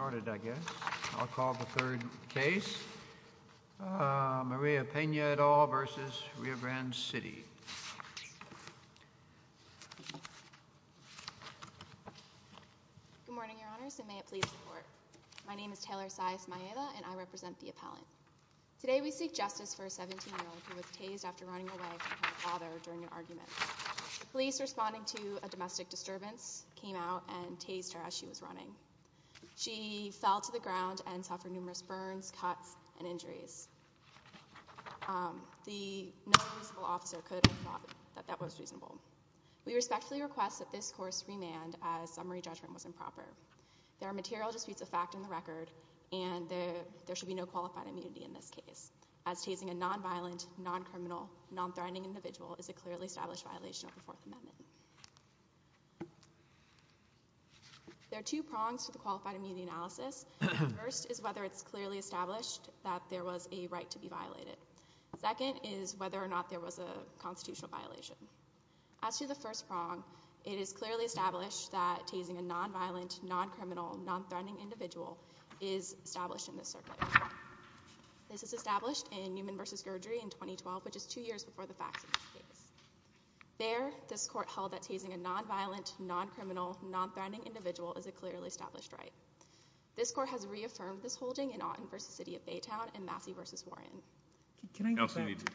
I'll call the third case, Maria Pena et al. v. Rio Grande City. Good morning, Your Honors, and may it please the Court. My name is Taylor Saez-Maeda, and I represent the appellant. Today we seek justice for a 17-year-old who was tased after running away from her father during an argument. The police, responding to a domestic disturbance, came out and tased her as she was running. She fell to the ground and suffered numerous burns, cuts, and injuries. No reasonable officer could have thought that that was reasonable. We respectfully request that this course be remanded as summary judgment was improper. There are material disputes of fact in the record, and there should be no qualified immunity in this case, as tasing a nonviolent, non-criminal, non-threatening individual is a clearly established violation of the Fourth Amendment. There are two prongs to the qualified immunity analysis. The first is whether it's clearly established that there was a right to be violated. The second is whether or not there was a constitutional violation. As to the first prong, it is clearly established that tasing a nonviolent, non-criminal, non-threatening individual is established in this circuit. This is established in Newman v. Gergery in 2012, which is two years before the facts of this case. There, this court held that tasing a nonviolent, non-criminal, non-threatening individual is a clearly established right. This court has reaffirmed this holding in Aughton v. City of Baytown and Massey v. Warren. Can I go back?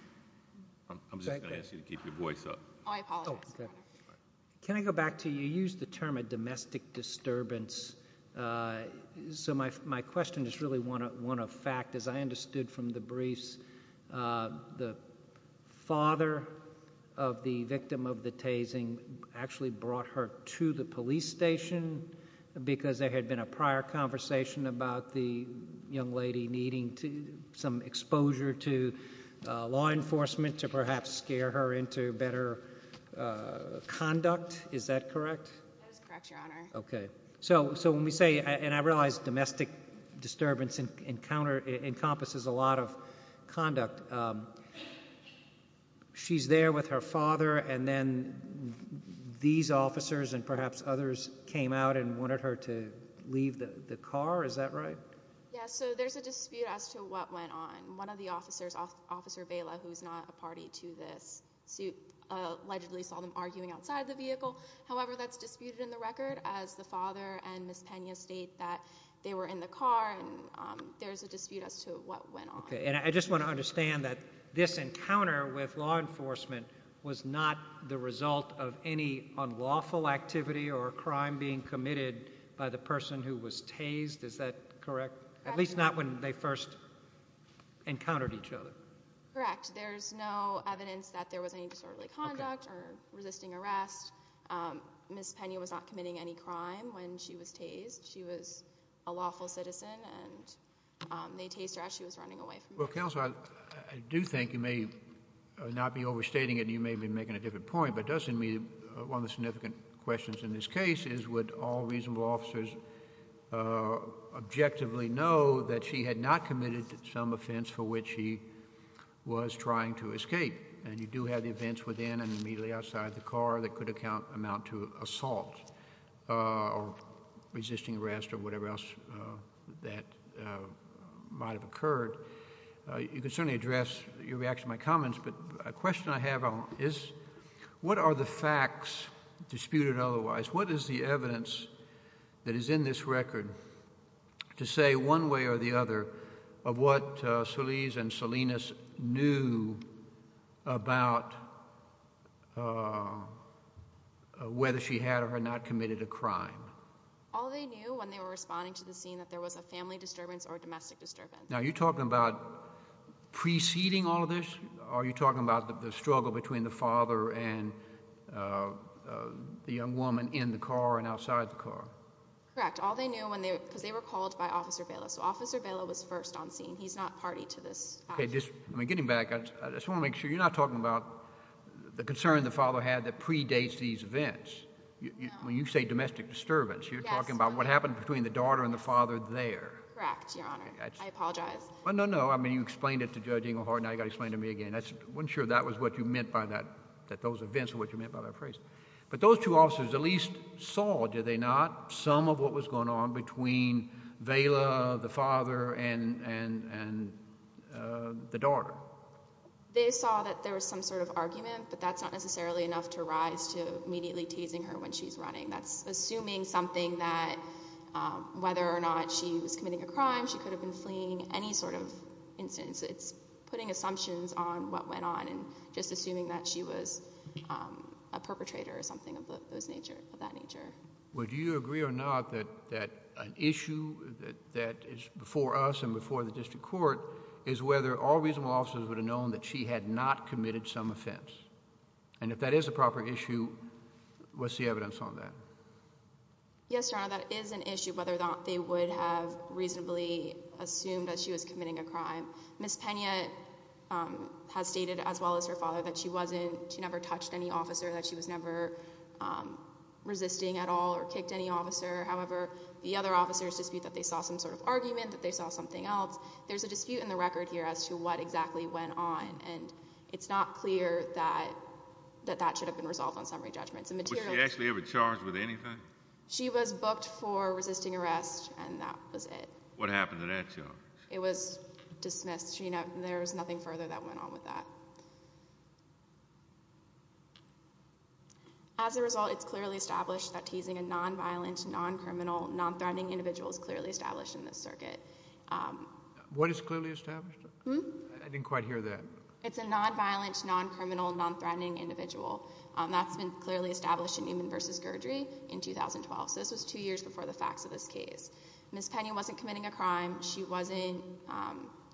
I'm just going to ask you to keep your voice up. Oh, I apologize. Can I go back to you? You used the term a domestic disturbance, so my question is really one of fact. As I understood from the briefs, the father of the victim of the tasing actually brought her to the police station because there had been a prior conversation about the young lady needing some exposure to law enforcement to perhaps scare her into better conduct. Is that correct? That is correct, Your Honor. Okay. So when we say, and I realize domestic disturbance encompasses a lot of conduct, she's there with her father, and then these officers and perhaps others came out and wanted her to leave the car. Is that right? Yeah, so there's a dispute as to what went on. One of the officers, Officer Vela, who is not a party to this suit, allegedly saw them arguing outside the vehicle. However, that's disputed in the record as the father and Ms. Pena state that they were in the car, and there's a dispute as to what went on. Okay, and I just want to understand that this encounter with law enforcement was not the result of any unlawful activity or crime being committed by the person who was tased. Is that correct? At least not when they first encountered each other. Correct. There's no evidence that there was any disorderly conduct or resisting arrest. Ms. Pena was not committing any crime when she was tased. She was a lawful citizen, and they tased her as she was running away. Well, Counselor, I do think you may not be overstating it, and you may be making a different point, but one of the significant questions in this case is would all reasonable officers objectively know that she had not committed some offense for which she was trying to escape? And you do have the events within and immediately outside the car that could amount to assault or resisting arrest or whatever else that might have occurred. You can certainly address your reaction to my comments, but a question I have is what are the facts disputed otherwise? What is the evidence that is in this record to say one way or the other of what Solis and Salinas knew about whether she had or had not committed a crime? All they knew when they were responding to the scene that there was a family disturbance or a domestic disturbance. Now, are you talking about preceding all of this? Are you talking about the struggle between the father and the young woman in the car and outside the car? Correct. All they knew because they were called by Officer Vela. So Officer Vela was first on scene. He's not party to this. Okay. I mean, getting back, I just want to make sure you're not talking about the concern the father had that predates these events. No. When you say domestic disturbance, you're talking about what happened between the daughter and the father there. Correct, Your Honor. I apologize. No, no. I mean, you explained it to Judge Engelhardt. Now you've got to explain it to me again. I wasn't sure that was what you meant by that, that those events were what you meant by that phrase. But those two officers at least saw, did they not, some of what was going on between Vela, the father, and the daughter? They saw that there was some sort of argument, but that's not necessarily enough to rise to immediately tasing her when she's running. That's assuming something that whether or not she was committing a crime, she could have been fleeing, any sort of instance. It's putting assumptions on what went on and just assuming that she was a perpetrator or something of that nature. Well, do you agree or not that an issue that is before us and before the district court is whether all reasonable officers would have known that she had not committed some offense? And if that is a proper issue, what's the evidence on that? Yes, Your Honor, that is an issue whether or not they would have reasonably assumed that she was committing a crime. Ms. Pena has stated as well as her father that she never touched any officer, that she was never resisting at all or kicked any officer. However, the other officers dispute that they saw some sort of argument, that they saw something else. There's a dispute in the record here as to what exactly went on. And it's not clear that that should have been resolved on summary judgments. Was she actually ever charged with anything? She was booked for resisting arrest, and that was it. What happened to that charge? It was dismissed. There's nothing further that went on with that. As a result, it's clearly established that teasing a nonviolent, noncriminal, nonthreatening individual is clearly established in this circuit. What is clearly established? I didn't quite hear that. It's a nonviolent, noncriminal, nonthreatening individual. That's been clearly established in Newman v. Gerdry in 2012. So this was two years before the facts of this case. Ms. Pena wasn't committing a crime. She wasn't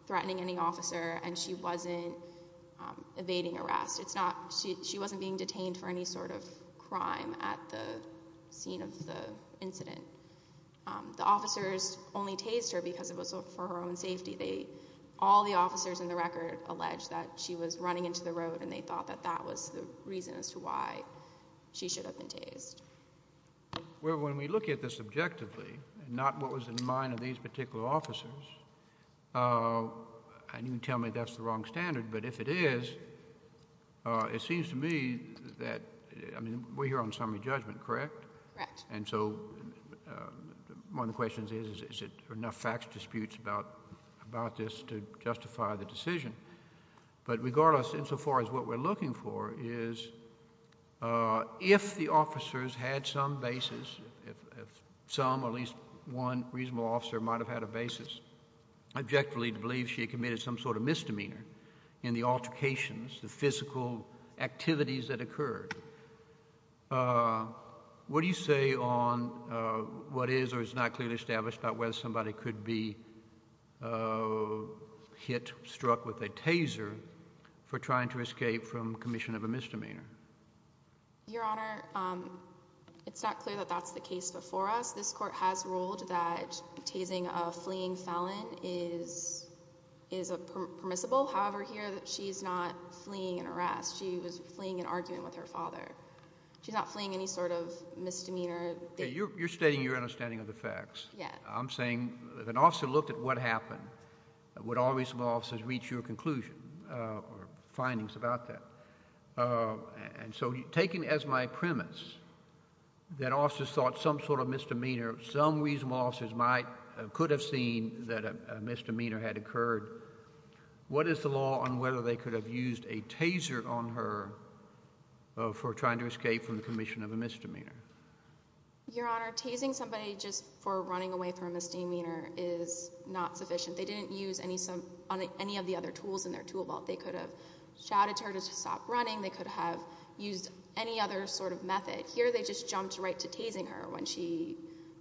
threatening any officer, and she wasn't evading arrest. She wasn't being detained for any sort of crime at the scene of the incident. The officers only tased her because it was for her own safety. All the officers in the record alleged that she was running into the road, and they thought that that was the reason as to why she should have been tased. Well, when we look at this objectively, not what was in the mind of these particular officers, and you can tell me that's the wrong standard, but if it is, it seems to me that we're here on summary judgment, correct? Correct. And so one of the questions is are there enough facts disputes about this to justify the decision? But regardless, insofar as what we're looking for is if the officers had some basis, if some or at least one reasonable officer might have had a basis, objectively to believe she committed some sort of misdemeanor in the altercations, the physical activities that occurred, what do you say on what is or is not clearly established about whether somebody could be hit, struck with a taser for trying to escape from commission of a misdemeanor? Your Honor, it's not clear that that's the case before us. This court has ruled that tasing a fleeing felon is permissible. However, here she's not fleeing an arrest. She was fleeing an argument with her father. She's not fleeing any sort of misdemeanor. You're stating your understanding of the facts. Yeah. I'm saying if an officer looked at what happened, would all reasonable officers reach your conclusion or findings about that? If some reasonable officers could have seen that a misdemeanor had occurred, what is the law on whether they could have used a taser on her for trying to escape from the commission of a misdemeanor? Your Honor, tasing somebody just for running away from a misdemeanor is not sufficient. They didn't use any of the other tools in their tool belt. They could have shouted to her to stop running. They could have used any other sort of method. Here they just jumped right to tasing her when she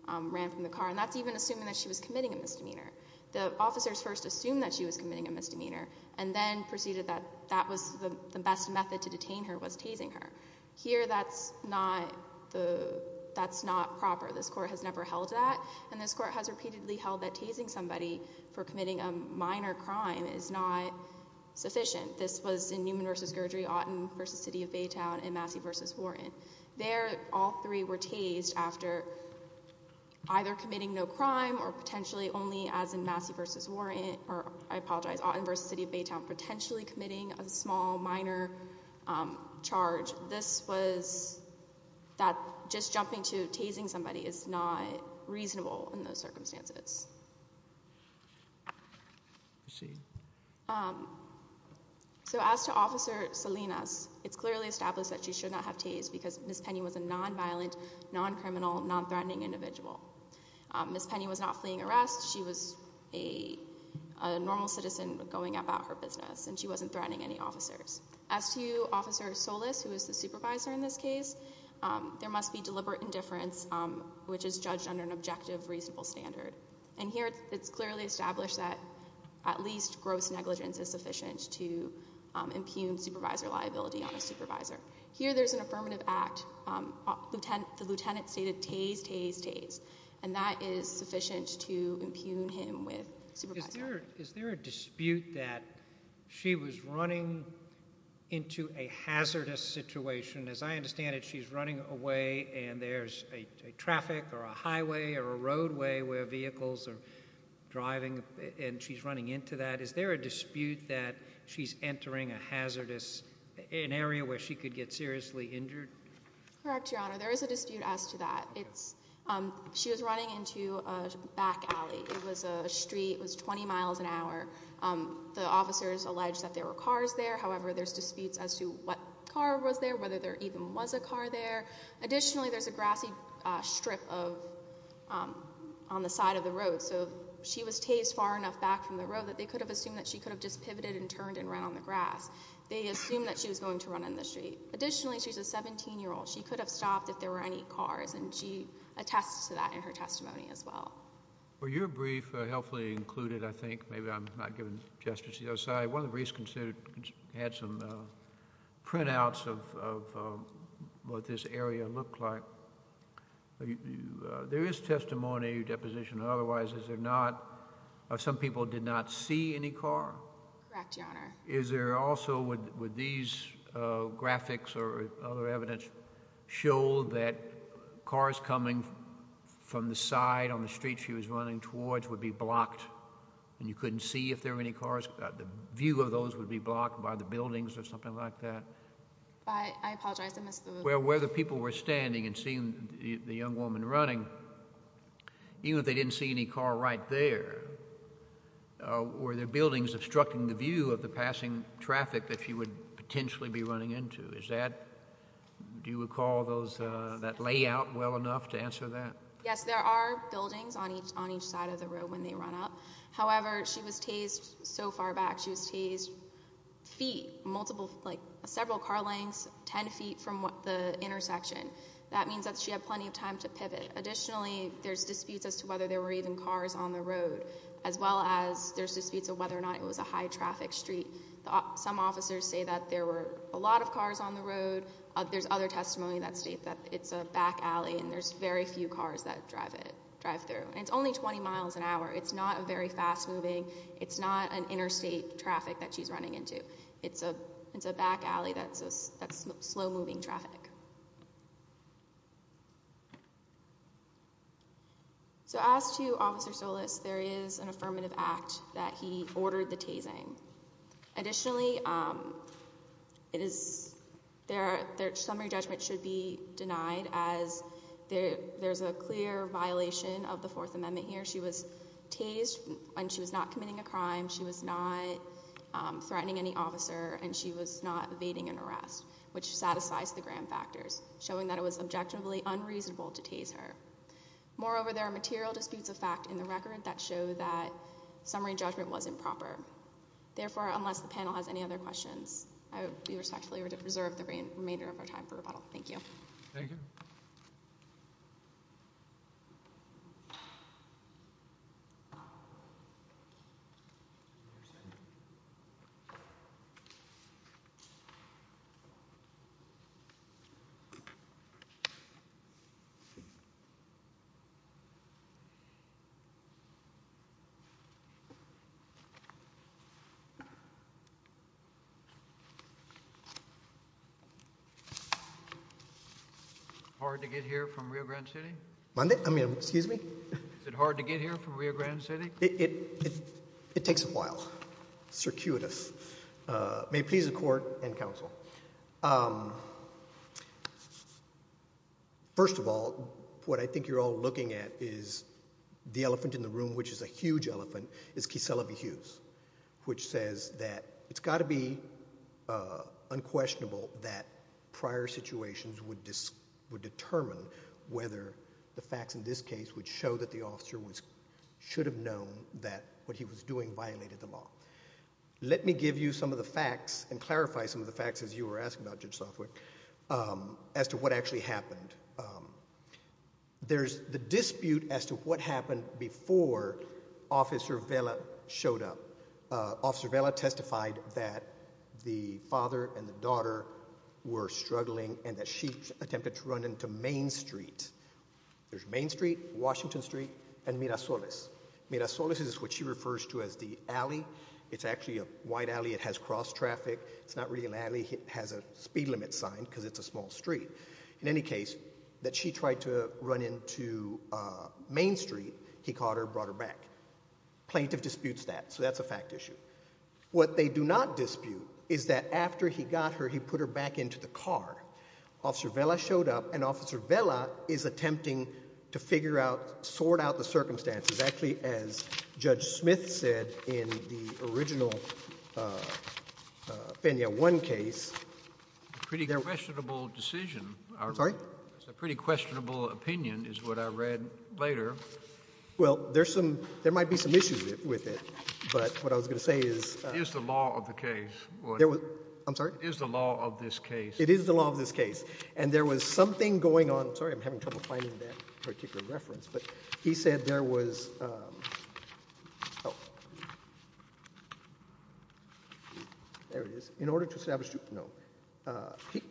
ran from the car, and that's even assuming that she was committing a misdemeanor. The officers first assumed that she was committing a misdemeanor and then proceeded that that was the best method to detain her was tasing her. Here that's not proper. This court has never held that, and this court has repeatedly held that tasing somebody for committing a minor crime is not sufficient. This was in Newman v. Gergery, Otten v. City of Baytown, and Massey v. Warren. There all three were tased after either committing no crime or potentially only as in Massey v. Warren, or I apologize, Otten v. City of Baytown, potentially committing a small minor charge. This was that just jumping to tasing somebody is not reasonable in those circumstances. Proceed. So as to Officer Salinas, it's clearly established that she should not have tased because Ms. Penny was a nonviolent, noncriminal, nonthreatening individual. Ms. Penny was not fleeing arrest. She was a normal citizen going about her business, and she wasn't threatening any officers. As to Officer Solis, who is the supervisor in this case, there must be deliberate indifference, which is judged under an objective reasonable standard. And here it's clearly established that at least gross negligence is sufficient to impugn supervisor liability on a supervisor. Here there's an affirmative act. The lieutenant stated tase, tase, tase, and that is sufficient to impugn him with supervisor liability. Is there a dispute that she was running into a hazardous situation? As I understand it, she's running away, and there's a traffic or a highway or a roadway where vehicles are driving, and she's running into that. Is there a dispute that she's entering a hazardous area where she could get seriously injured? Correct, Your Honor. There is a dispute as to that. She was running into a back alley. It was a street. It was 20 miles an hour. The officers alleged that there were cars there. However, there's disputes as to what car was there, whether there even was a car there. Additionally, there's a grassy strip on the side of the road. So she was tased far enough back from the road that they could have assumed that she could have just pivoted and turned and ran on the grass. They assumed that she was going to run in the street. Additionally, she's a 17-year-old. She could have stopped if there were any cars, and she attests to that in her testimony as well. Were your brief helpfully included, I think? Maybe I'm not giving gestures to the other side. One of the briefs had some printouts of what this area looked like. There is testimony of deposition. Otherwise, is there not? Some people did not see any car? Correct, Your Honor. Would these graphics or other evidence show that cars coming from the side on the street she was running towards would be blocked, and you couldn't see if there were any cars? The view of those would be blocked by the buildings or something like that? I apologize. Where the people were standing and seeing the young woman running, even if they didn't see any car right there, were there buildings obstructing the view of the passing traffic that she would potentially be running into? Do you recall that layout well enough to answer that? Yes, there are buildings on each side of the road when they run up. However, she was tased so far back. She was tased several car lengths, ten feet from the intersection. That means that she had plenty of time to pivot. Additionally, there's disputes as to whether there were even cars on the road, as well as there's disputes of whether or not it was a high-traffic street. There's other testimony that states that it's a back alley and there's very few cars that drive through. It's only 20 miles an hour. It's not very fast-moving. It's not an interstate traffic that she's running into. It's a back alley that's slow-moving traffic. So as to Officer Solis, there is an affirmative act that he ordered the tasing. Additionally, their summary judgment should be denied, as there's a clear violation of the Fourth Amendment here. She was tased, and she was not committing a crime. She was not threatening any officer, and she was not evading an arrest, which satisfies the Graham factors, showing that it was objectively unreasonable to tase her. Moreover, there are material disputes of fact in the record that show that summary judgment was improper. Therefore, unless the panel has any other questions, I would respectfully reserve the remainder of our time for rebuttal. Thank you. Thank you. Hard to get here from Rio Grande City? Monday? I mean, excuse me? Is it hard to get here from Rio Grande City? It takes a while. It's circuitous. May it please the Court and Counsel. First of all, what I think you're all looking at is the elephant in the room, which is a huge elephant, is Kieselovy-Hughes, which says that it's got to be unquestionable that prior situations would determine whether the facts in this case would show that the officer should have known that what he was doing violated the law. Let me give you some of the facts and clarify some of the facts, as you were asking about, Judge Sofwick, as to what actually happened. There's the dispute as to what happened before Officer Vela showed up. Officer Vela testified that the father and the daughter were struggling and that she attempted to run into Main Street. There's Main Street, Washington Street, and Mirasoles. Mirasoles is what she refers to as the alley. It's actually a wide alley. It has cross traffic. It's not really an alley. It has a speed limit sign because it's a small street. In any case, that she tried to run into Main Street, he caught her and brought her back. Plaintiff disputes that, so that's a fact issue. What they do not dispute is that after he got her, he put her back into the car. Officer Vela showed up, and Officer Vela is attempting to figure out, sort out the circumstances. It's exactly as Judge Smith said in the original Fenya One case. Pretty questionable decision. Sorry? It's a pretty questionable opinion is what I read later. Well, there's some, there might be some issues with it, but what I was going to say is. It is the law of the case. I'm sorry? It is the law of this case. It is the law of this case, and there was something going on. Oh, I'm sorry. I'm having trouble finding that particular reference, but he said there was. Oh. There it is. In order to establish. No.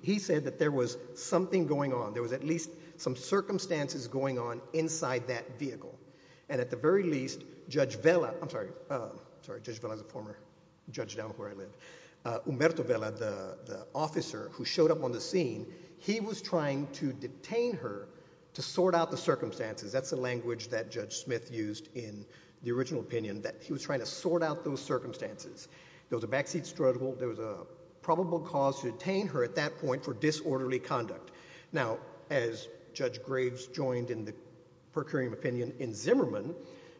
He said that there was something going on. There was at least some circumstances going on inside that vehicle, and at the very least, Judge Vela. I'm sorry. Sorry. Judge Vela is a former judge down where I live. Umberto Vela, the officer who showed up on the scene, he was trying to detain her to sort out the circumstances. That's the language that Judge Smith used in the original opinion, that he was trying to sort out those circumstances. There was a backseat struggle. There was a probable cause to detain her at that point for disorderly conduct. Now, as Judge Graves joined in the per curiam opinion in Zimmerman,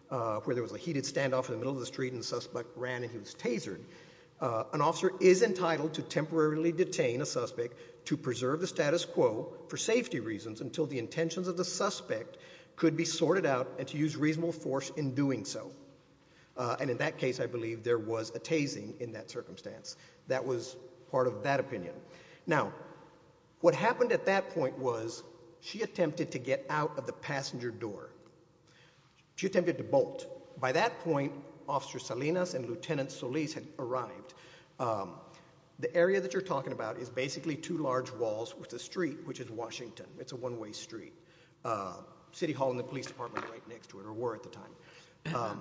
where there was a heated standoff in the middle of the street and the suspect ran and he was tasered, an officer is entitled to temporarily detain a suspect to preserve the status quo for safety reasons until the intentions of the suspect could be sorted out and to use reasonable force in doing so. And in that case, I believe there was a tasing in that circumstance. That was part of that opinion. Now, what happened at that point was she attempted to get out of the passenger door. She attempted to bolt. By that point, Officer Salinas and Lieutenant Solis had arrived. The area that you're talking about is basically two large walls with a street, which is Washington. It's a one-way street. City Hall and the police department were right next to it, or were at the time.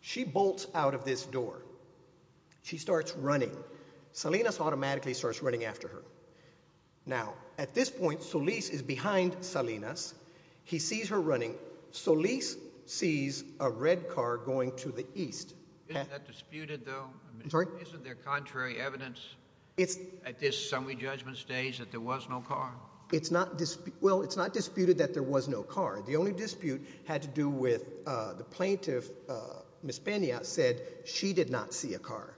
She bolts out of this door. She starts running. Salinas automatically starts running after her. Now, at this point, Solis is behind Salinas. He sees her running. Solis sees a red car going to the east. Isn't that disputed, though? I'm sorry? Isn't there contrary evidence at this summary judgment stage that there was no car? Well, it's not disputed that there was no car. The only dispute had to do with the plaintiff, Ms. Pena, said she did not see a car.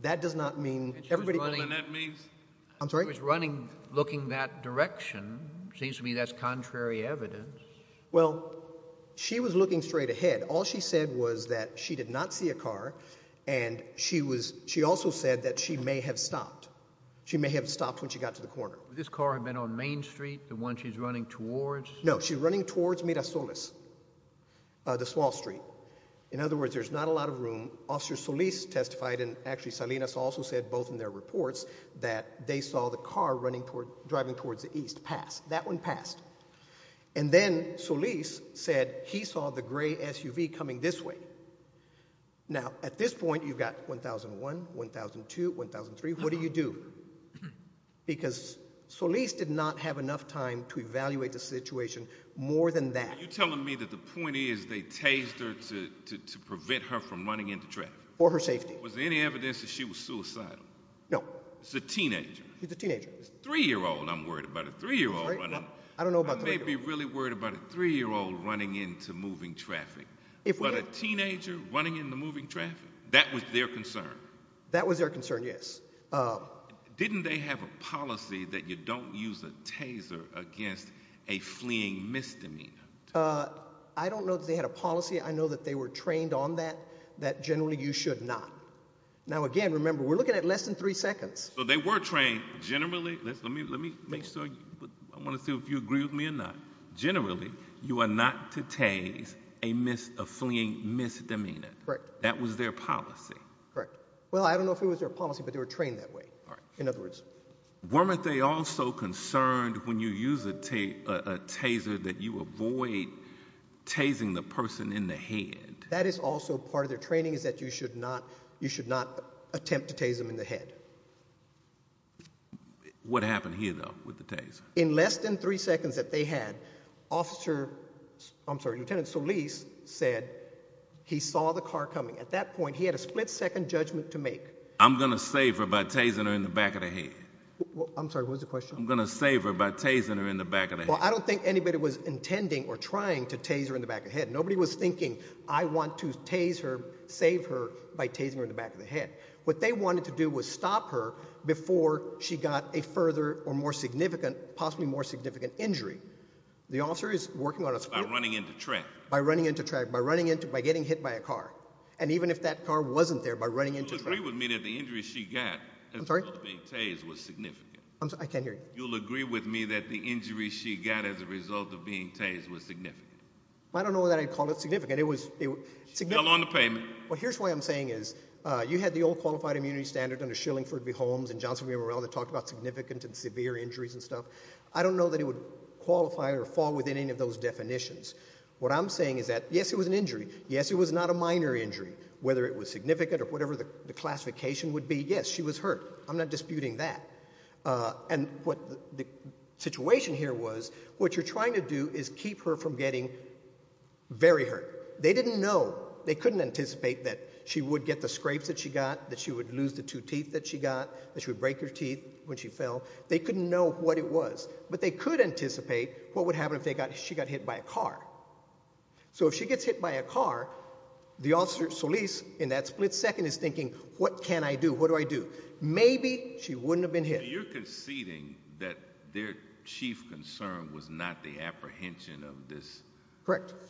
That does not mean everybody— And she was running at me? I'm sorry? She was running, looking that direction. Seems to me that's contrary evidence. Well, she was looking straight ahead. All she said was that she did not see a car, and she also said that she may have stopped. She may have stopped when she got to the corner. Would this car have been on Main Street, the one she's running towards? No, she's running towards Mirasoles, the small street. In other words, there's not a lot of room. Officer Solis testified, and actually Salinas also said both in their reports, that they saw the car driving towards the east pass. That one passed. And then Solis said he saw the gray SUV coming this way. Now, at this point, you've got 1001, 1002, 1003. What do you do? Because Solis did not have enough time to evaluate the situation more than that. Are you telling me that the point is they tased her to prevent her from running into traffic? For her safety. Was there any evidence that she was suicidal? No. She's a teenager. She's a teenager. Three-year-old, I'm worried about a three-year-old. I don't know about three-year-old. I may be really worried about a three-year-old running into moving traffic. But a teenager running into moving traffic, that was their concern? That was their concern, yes. Didn't they have a policy that you don't use a taser against a fleeing misdemeanor? I don't know that they had a policy. I know that they were trained on that, that generally you should not. Now, again, remember, we're looking at less than three seconds. So they were trained generally. Let me make sure. I want to see if you agree with me or not. Generally, you are not to tase a fleeing misdemeanor. Correct. That was their policy. Correct. Well, I don't know if it was their policy, but they were trained that way, in other words. Weren't they also concerned when you use a taser that you avoid tasing the person in the head? That is also part of their training, is that you should not attempt to tase them in the head. What happened here, though, with the taser? In less than three seconds that they had, Lieutenant Solis said he saw the car coming. At that point, he had a split-second judgment to make. I'm going to save her by tasing her in the back of the head. I'm sorry, what was the question? I'm going to save her by tasing her in the back of the head. Well, I don't think anybody was intending or trying to tase her in the back of the head. Nobody was thinking, I want to tase her, save her, by tasing her in the back of the head. What they wanted to do was stop her before she got a further or more significant, possibly more significant injury. The officer is working on a split- By running into track. By running into track, by getting hit by a car, and even if that car wasn't there, by running into track. You'll agree with me that the injury she got as a result of being tased was significant. I'm sorry, I can't hear you. You'll agree with me that the injury she got as a result of being tased was significant. I don't know that I'd call it significant. It was- She fell on the pavement. Well, here's what I'm saying is, you had the old qualified immunity standard under Shillingford v. Holmes and Johnson v. Morrell that talked about significant and severe injuries and stuff. I don't know that it would qualify or fall within any of those definitions. What I'm saying is that, yes, it was an injury. Yes, it was not a minor injury. Whether it was significant or whatever the classification would be, yes, she was hurt. I'm not disputing that. And what the situation here was, what you're trying to do is keep her from getting very hurt. They didn't know. They couldn't anticipate that she would get the scrapes that she got, that she would lose the two teeth that she got, that she would break her teeth when she fell. They couldn't know what it was, but they could anticipate what would happen if she got hit by a car. So if she gets hit by a car, the officer, Solis, in that split second is thinking, what can I do? What do I do? Maybe she wouldn't have been hit. You're conceding that their chief concern was not the apprehension of this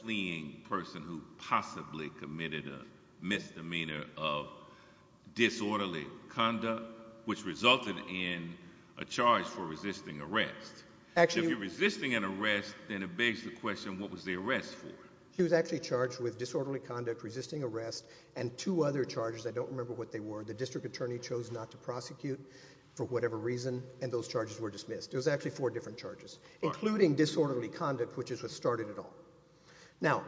fleeing person who possibly committed a misdemeanor of disorderly conduct, which resulted in a charge for resisting arrest. If you're resisting an arrest, then it begs the question, what was the arrest for? She was actually charged with disorderly conduct, resisting arrest, and two other charges. I don't remember what they were. The district attorney chose not to prosecute for whatever reason, and those charges were dismissed. It was actually four different charges, including disorderly conduct, which is what started it all. Now,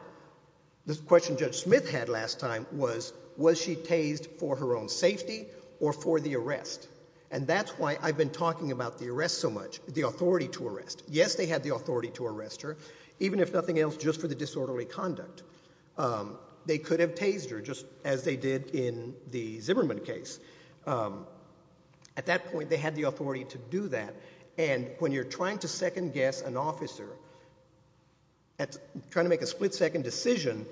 the question Judge Smith had last time was, was she tased for her own safety or for the arrest? And that's why I've been talking about the arrest so much, the authority to arrest. Yes, they had the authority to arrest her, even if nothing else, just for the disorderly conduct. They could have tased her, just as they did in the Zimmerman case. At that point, they had the authority to do that. And when you're trying to second-guess an officer, trying to make a split-second decision,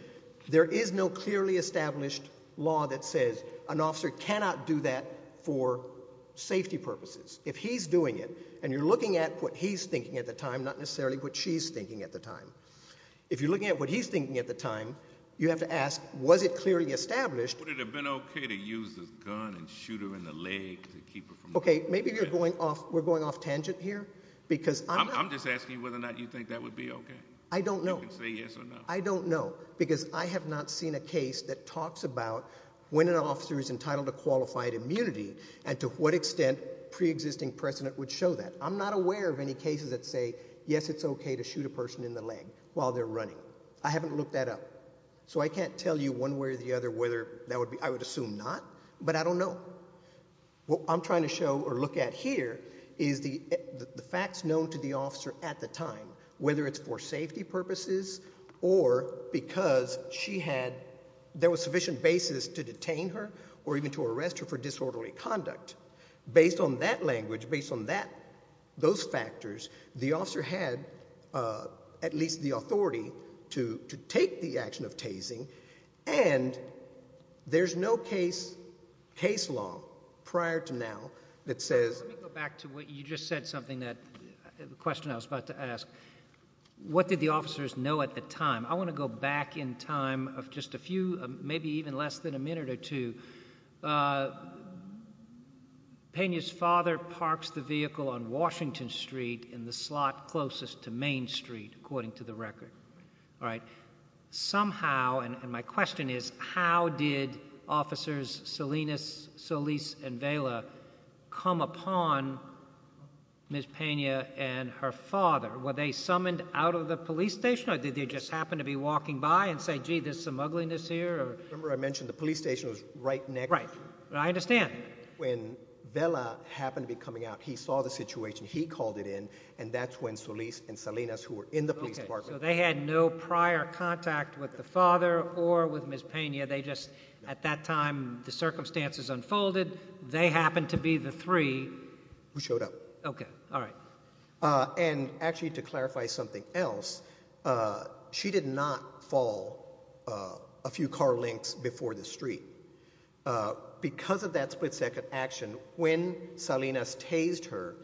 there is no clearly established law that says an officer cannot do that for safety purposes. If he's doing it, and you're looking at what he's thinking at the time, not necessarily what she's thinking at the time. If you're looking at what he's thinking at the time, you have to ask, was it clearly established? Would it have been okay to use the gun and shoot her in the leg to keep her from doing that? Okay, maybe we're going off tangent here, because I'm not— I'm just asking whether or not you think that would be okay. I don't know. You can say yes or no. I don't know, because I have not seen a case that talks about when an officer is entitled to qualified immunity and to what extent preexisting precedent would show that. I'm not aware of any cases that say, yes, it's okay to shoot a person in the leg while they're running. I haven't looked that up. So I can't tell you one way or the other whether that would be—I would assume not, but I don't know. What I'm trying to show or look at here is the facts known to the officer at the time, whether it's for safety purposes or because she had— there was sufficient basis to detain her or even to arrest her for disorderly conduct. Based on that language, based on those factors, the officer had at least the authority to take the action of tasing, and there's no case law prior to now that says— Let me go back to what you just said, something that—a question I was about to ask. What did the officers know at the time? I want to go back in time of just a few, maybe even less than a minute or two. Pena's father parks the vehicle on Washington Street in the slot closest to Main Street, according to the record. All right. Somehow—and my question is how did officers Salinas, Solis, and Vela come upon Ms. Pena and her father? Were they summoned out of the police station or did they just happen to be walking by and say, gee, there's some ugliness here or— Remember I mentioned the police station was right next— Right. I understand. When Vela happened to be coming out, he saw the situation, he called it in, and that's when Solis and Salinas, who were in the police department— So they had no prior contact with the father or with Ms. Pena. They just—at that time, the circumstances unfolded. They happened to be the three— Who showed up. Okay. All right. And actually, to clarify something else, she did not fall a few car lengths before the street. Because of that split-second action, when Salinas tased her,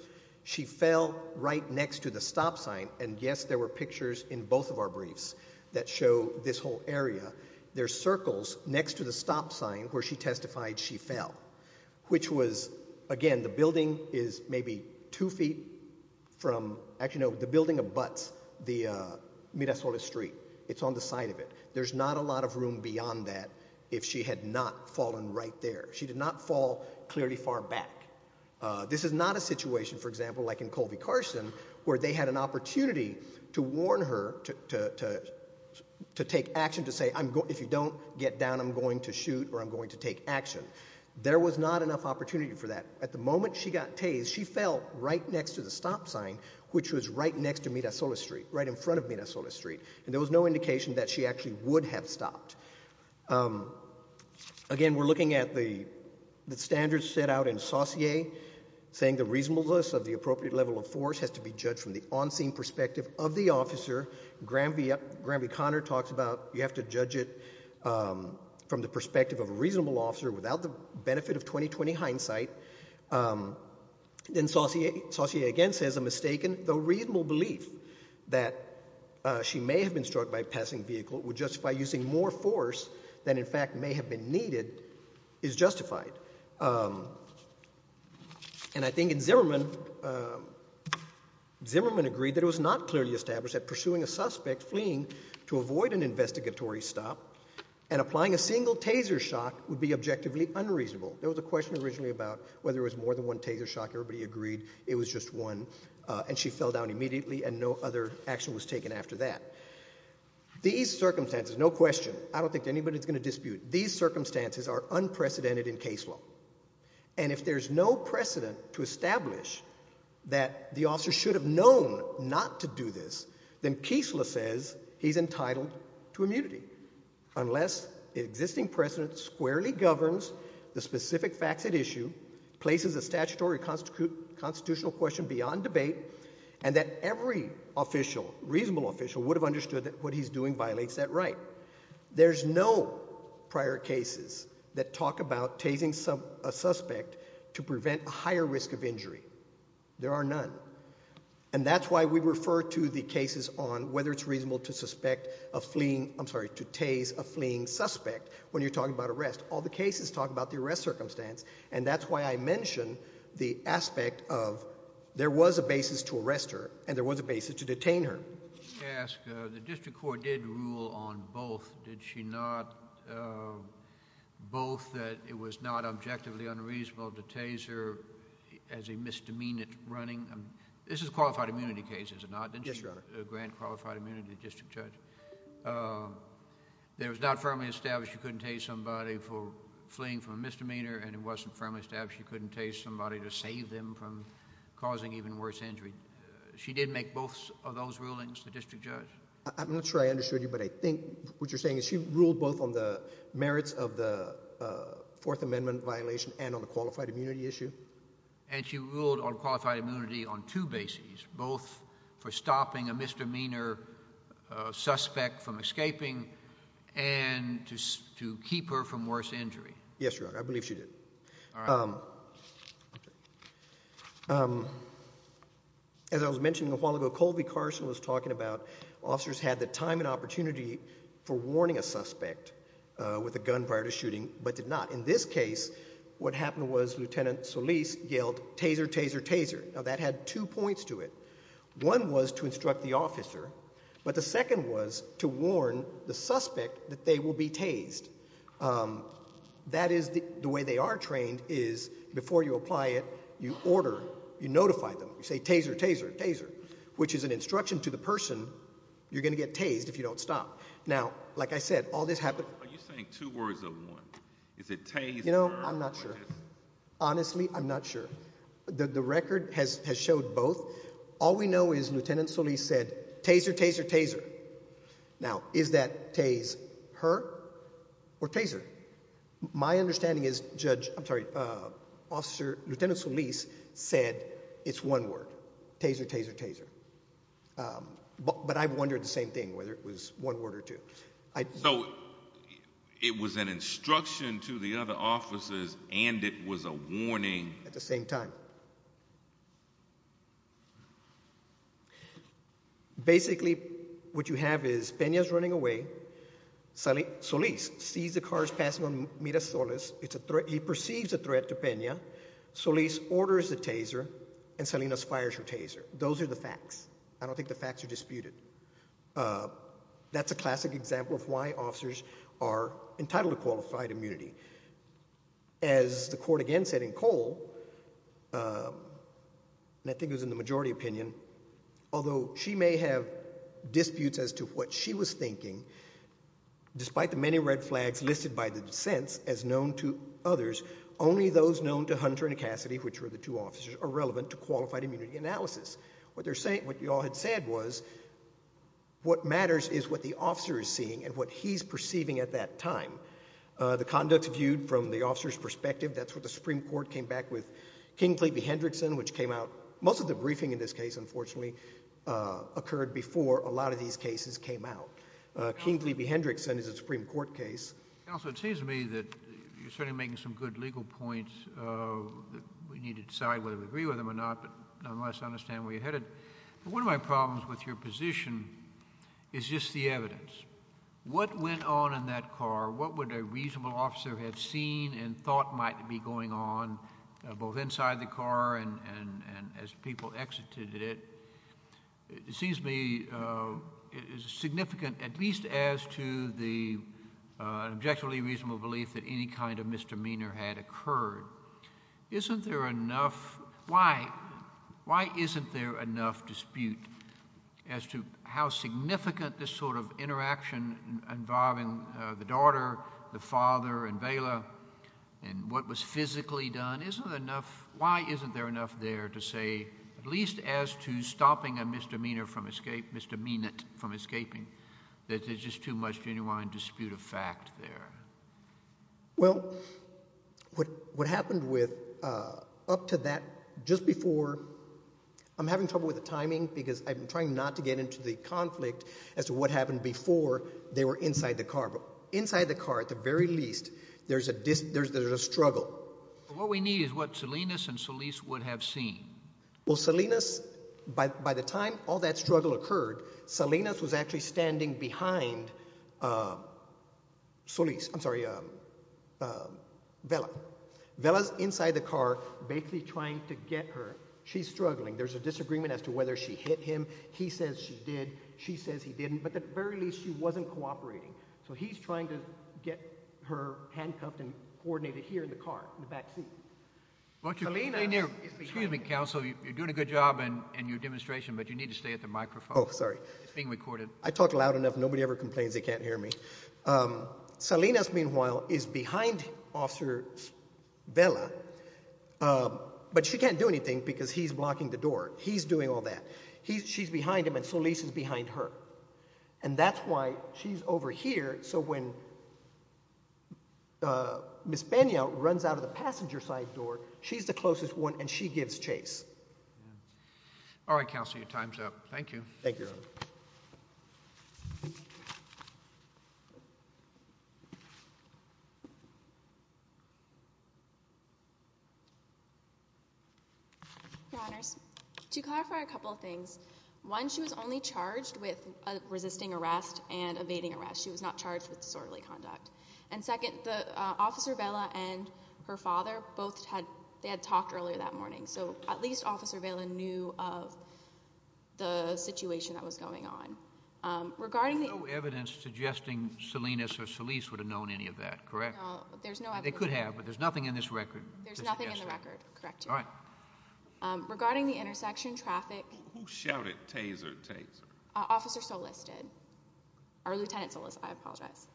she fell right next to the stop sign, and yes, there were pictures in both of our briefs that show this whole area. There are circles next to the stop sign where she testified she fell, which was, again, the building is maybe two feet from— Actually, no, the building abuts the Mira Solis Street. It's on the side of it. There's not a lot of room beyond that if she had not fallen right there. She did not fall clearly far back. This is not a situation, for example, like in Colby Carson, where they had an opportunity to warn her to take action, to say, if you don't get down, I'm going to shoot or I'm going to take action. There was not enough opportunity for that. At the moment she got tased, she fell right next to the stop sign, which was right next to Mira Solis Street, right in front of Mira Solis Street, and there was no indication that she actually would have stopped. Again, we're looking at the standards set out in Saussure, saying the reasonableness of the appropriate level of force has to be judged from the on-scene perspective of the officer. Graham V. Conner talks about you have to judge it from the perspective of a reasonable officer without the benefit of 20-20 hindsight. Then Saussure again says a mistaken, though reasonable, belief that she may have been struck by a passing vehicle would justify using more force than in fact may have been needed is justified. And I think Zimmerman agreed that it was not clearly established that pursuing a suspect fleeing to avoid an investigatory stop and applying a single taser shock would be objectively unreasonable. There was a question originally about whether it was more than one taser shock. Everybody agreed it was just one, and she fell down immediately and no other action was taken after that. These circumstances, no question, I don't think anybody's going to dispute, these circumstances are unprecedented in case law. And if there's no precedent to establish that the officer should have known not to do this, then Keesler says he's entitled to immunity unless the existing precedent squarely governs the specific facts at issue, places a statutory constitutional question beyond debate, and that every official, reasonable official, would have understood that what he's doing violates that right. There's no prior cases that talk about tasing a suspect to prevent a higher risk of injury. There are none. And that's why we refer to the cases on whether it's reasonable to suspect a fleeing, I'm sorry, to tase a fleeing suspect when you're talking about arrest. All the cases talk about the arrest circumstance, and that's why I mention the aspect of there was a basis to arrest her and there was a basis to detain her. Let me ask, the district court did rule on both. Did she not, both that it was not objectively unreasonable to tase her as a misdemeanor running? This is a qualified immunity case, is it not? Yes, Your Honor. Grant qualified immunity district judge. There was not firmly established she couldn't tase somebody for fleeing from a misdemeanor and it wasn't firmly established she couldn't tase somebody to save them from causing even worse injury. She did make both of those rulings, the district judge? I'm not sure I understood you, but I think what you're saying is she ruled both on the merits of the Fourth Amendment violation and on the qualified immunity issue. And she ruled on qualified immunity on two bases, both for stopping a misdemeanor suspect from escaping and to keep her from worse injury. Yes, Your Honor, I believe she did. As I was mentioning a while ago, Colby Carson was talking about officers had the time and opportunity for warning a suspect with a gun prior to shooting but did not. In this case, what happened was Lieutenant Solis yelled, taser, taser, taser. Now, that had two points to it. One was to instruct the officer, but the second was to warn the suspect that they will be tased. That is the way they are trained is before you apply it, you order, you notify them. You say, taser, taser, taser, which is an instruction to the person, you're going to get tased if you don't stop. Now, like I said, all this happened. Are you saying two words or one? Is it taser? You know, I'm not sure. Honestly, I'm not sure. The record has showed both. All we know is Lieutenant Solis said, taser, taser, taser. Now, is that tase her or taser? My understanding is Lieutenant Solis said it's one word, taser, taser, taser. But I wondered the same thing, whether it was one word or two. So it was an instruction to the other officers and it was a warning? At the same time. Basically, what you have is Pena is running away. Solis sees the cars passing on Mira Solis. He perceives a threat to Pena. Solis orders the taser, and Salinas fires her taser. Those are the facts. I don't think the facts are disputed. That's a classic example of why officers are entitled to qualified immunity. As the court again said in Cole, and I think it was in the majority opinion, although she may have disputes as to what she was thinking, despite the many red flags listed by the dissents as known to others, only those known to Hunter and Cassidy, which were the two officers, are relevant to qualified immunity analysis. What you all had said was what matters is what the officer is seeing and what he's perceiving at that time. The conduct viewed from the officer's perspective, that's what the Supreme Court came back with. Kingley v. Hendrickson, which came out, most of the briefing in this case, unfortunately, occurred before a lot of these cases came out. Kingley v. Hendrickson is a Supreme Court case. Counsel, it seems to me that you're certainly making some good legal points. We need to decide whether we agree with them or not, unless I understand where you're headed. One of my problems with your position is just the evidence. What went on in that car? What would a reasonable officer have seen and thought might be going on, both inside the car and as people exited it? It seems to me significant, at least as to the objectively reasonable belief that any kind of misdemeanor had occurred. Why isn't there enough dispute as to how significant this sort of interaction involving the daughter, the father, and Vela and what was physically done? Why isn't there enough there to say, at least as to stopping a misdemeanor from escaping, misdemeanant from escaping, that there's just too much genuine dispute of fact there? Well, what happened up to that, just before, I'm having trouble with the timing because I'm trying not to get into the conflict as to what happened before they were inside the car. Inside the car, at the very least, there's a struggle. What we need is what Salinas and Solis would have seen. Well, Salinas, by the time all that struggle occurred, Salinas was actually standing behind Solis. I'm sorry, Vela. Vela's inside the car, basically trying to get her. She's struggling. There's a disagreement as to whether she hit him. He says she did. She says he didn't. But at the very least, she wasn't cooperating. So he's trying to get her handcuffed and coordinated here in the car, in the backseat. Salinas... Excuse me, counsel. You're doing a good job in your demonstration, but you need to stay at the microphone. Oh, sorry. It's being recorded. I talk loud enough. Nobody ever complains they can't hear me. Salinas, meanwhile, is behind Officer Vela, but she can't do anything because he's blocking the door. He's doing all that. She's behind him, and Solis is behind her. And that's why she's over here. So when Ms. Pena runs out of the passenger side door, she's the closest one, and she gives chase. All right, counsel. Your time's up. Thank you. Thank you, Your Honor. Thank you. Your Honors, to clarify a couple of things, one, she was only charged with resisting arrest and evading arrest. She was not charged with disorderly conduct. And second, Officer Vela and her father both had talked earlier that morning, so at least Officer Vela knew of the situation that was going on. There's no evidence suggesting Salinas or Solis would have known any of that, correct? No, there's no evidence. They could have, but there's nothing in this record to suggest that. There's nothing in the record, correct, Your Honor. All right. Regarding the intersection traffic. Who shouted Taser, Taser? Officer Solis did. Or Lieutenant Solis, I apologize.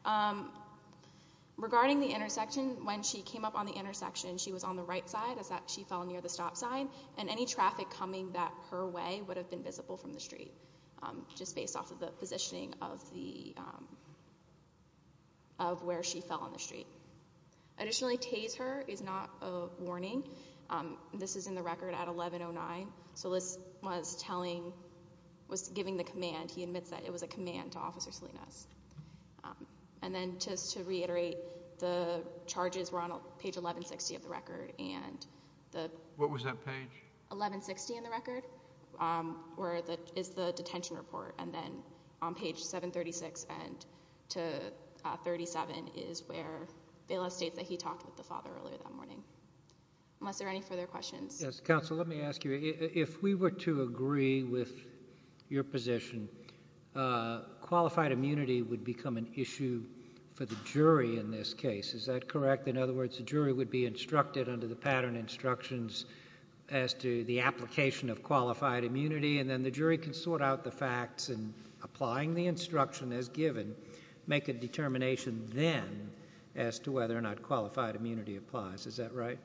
Regarding the intersection, when she came up on the intersection, she was on the right side as she fell near the stop sign, and any traffic coming that her way would have been visible from the street just based off of the positioning of where she fell on the street. Additionally, Taser is not a warning. This is in the record at 1109. Solis was telling, was giving the command. He admits that it was a command to Officer Salinas. And then just to reiterate, the charges were on page 1160 of the record. What was that page? 1160 in the record. Where is the detention report? And then on page 736 and to 37 is where Bailiff states that he talked with the father earlier that morning. Unless there are any further questions. Yes, counsel, let me ask you. If we were to agree with your position, qualified immunity would become an issue for the jury in this case. Is that correct? In other words, the jury would be instructed under the pattern instructions as to the application of qualified immunity, and then the jury can sort out the facts and applying the instruction as given, make a determination then as to whether or not qualified immunity applies. Is that right?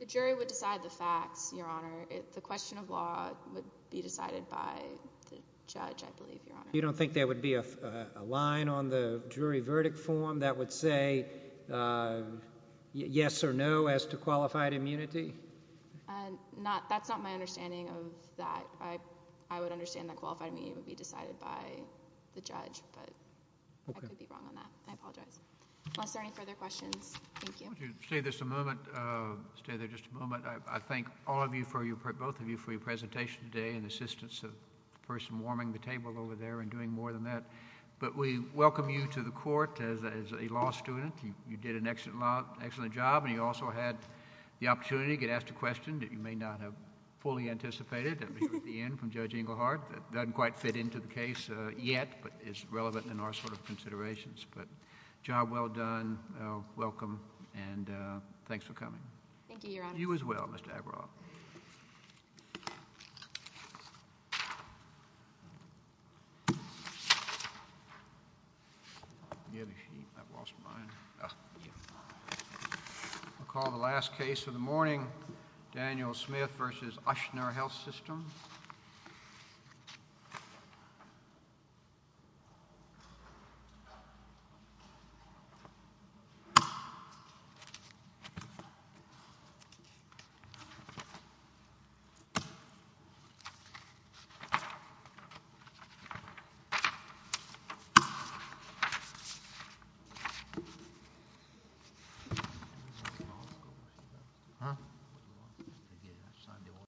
The jury would decide the facts, Your Honor. The question of law would be decided by the judge, I believe, Your Honor. You don't think there would be a line on the jury verdict form that would say yes or no as to qualified immunity? That's not my understanding of that. I would understand that qualified immunity would be decided by the judge, but I could be wrong on that. I apologize. Unless there are any further questions. Thank you. Stay there just a moment. I thank all of you, both of you, for your presentation today and the assistance of the person warming the table over there and doing more than that. But we welcome you to the court as a law student. You did an excellent job, and you also had the opportunity to get asked a question that you may not have fully anticipated at the end from Judge Engelhardt that doesn't quite fit into the case yet but is relevant in our sort of considerations. But job well done, welcome, and thanks for coming. Thank you, Your Honor. You as well, Mr. Agrawal. Thank you. I'll call the last case of the morning, Thank you, Your Honor.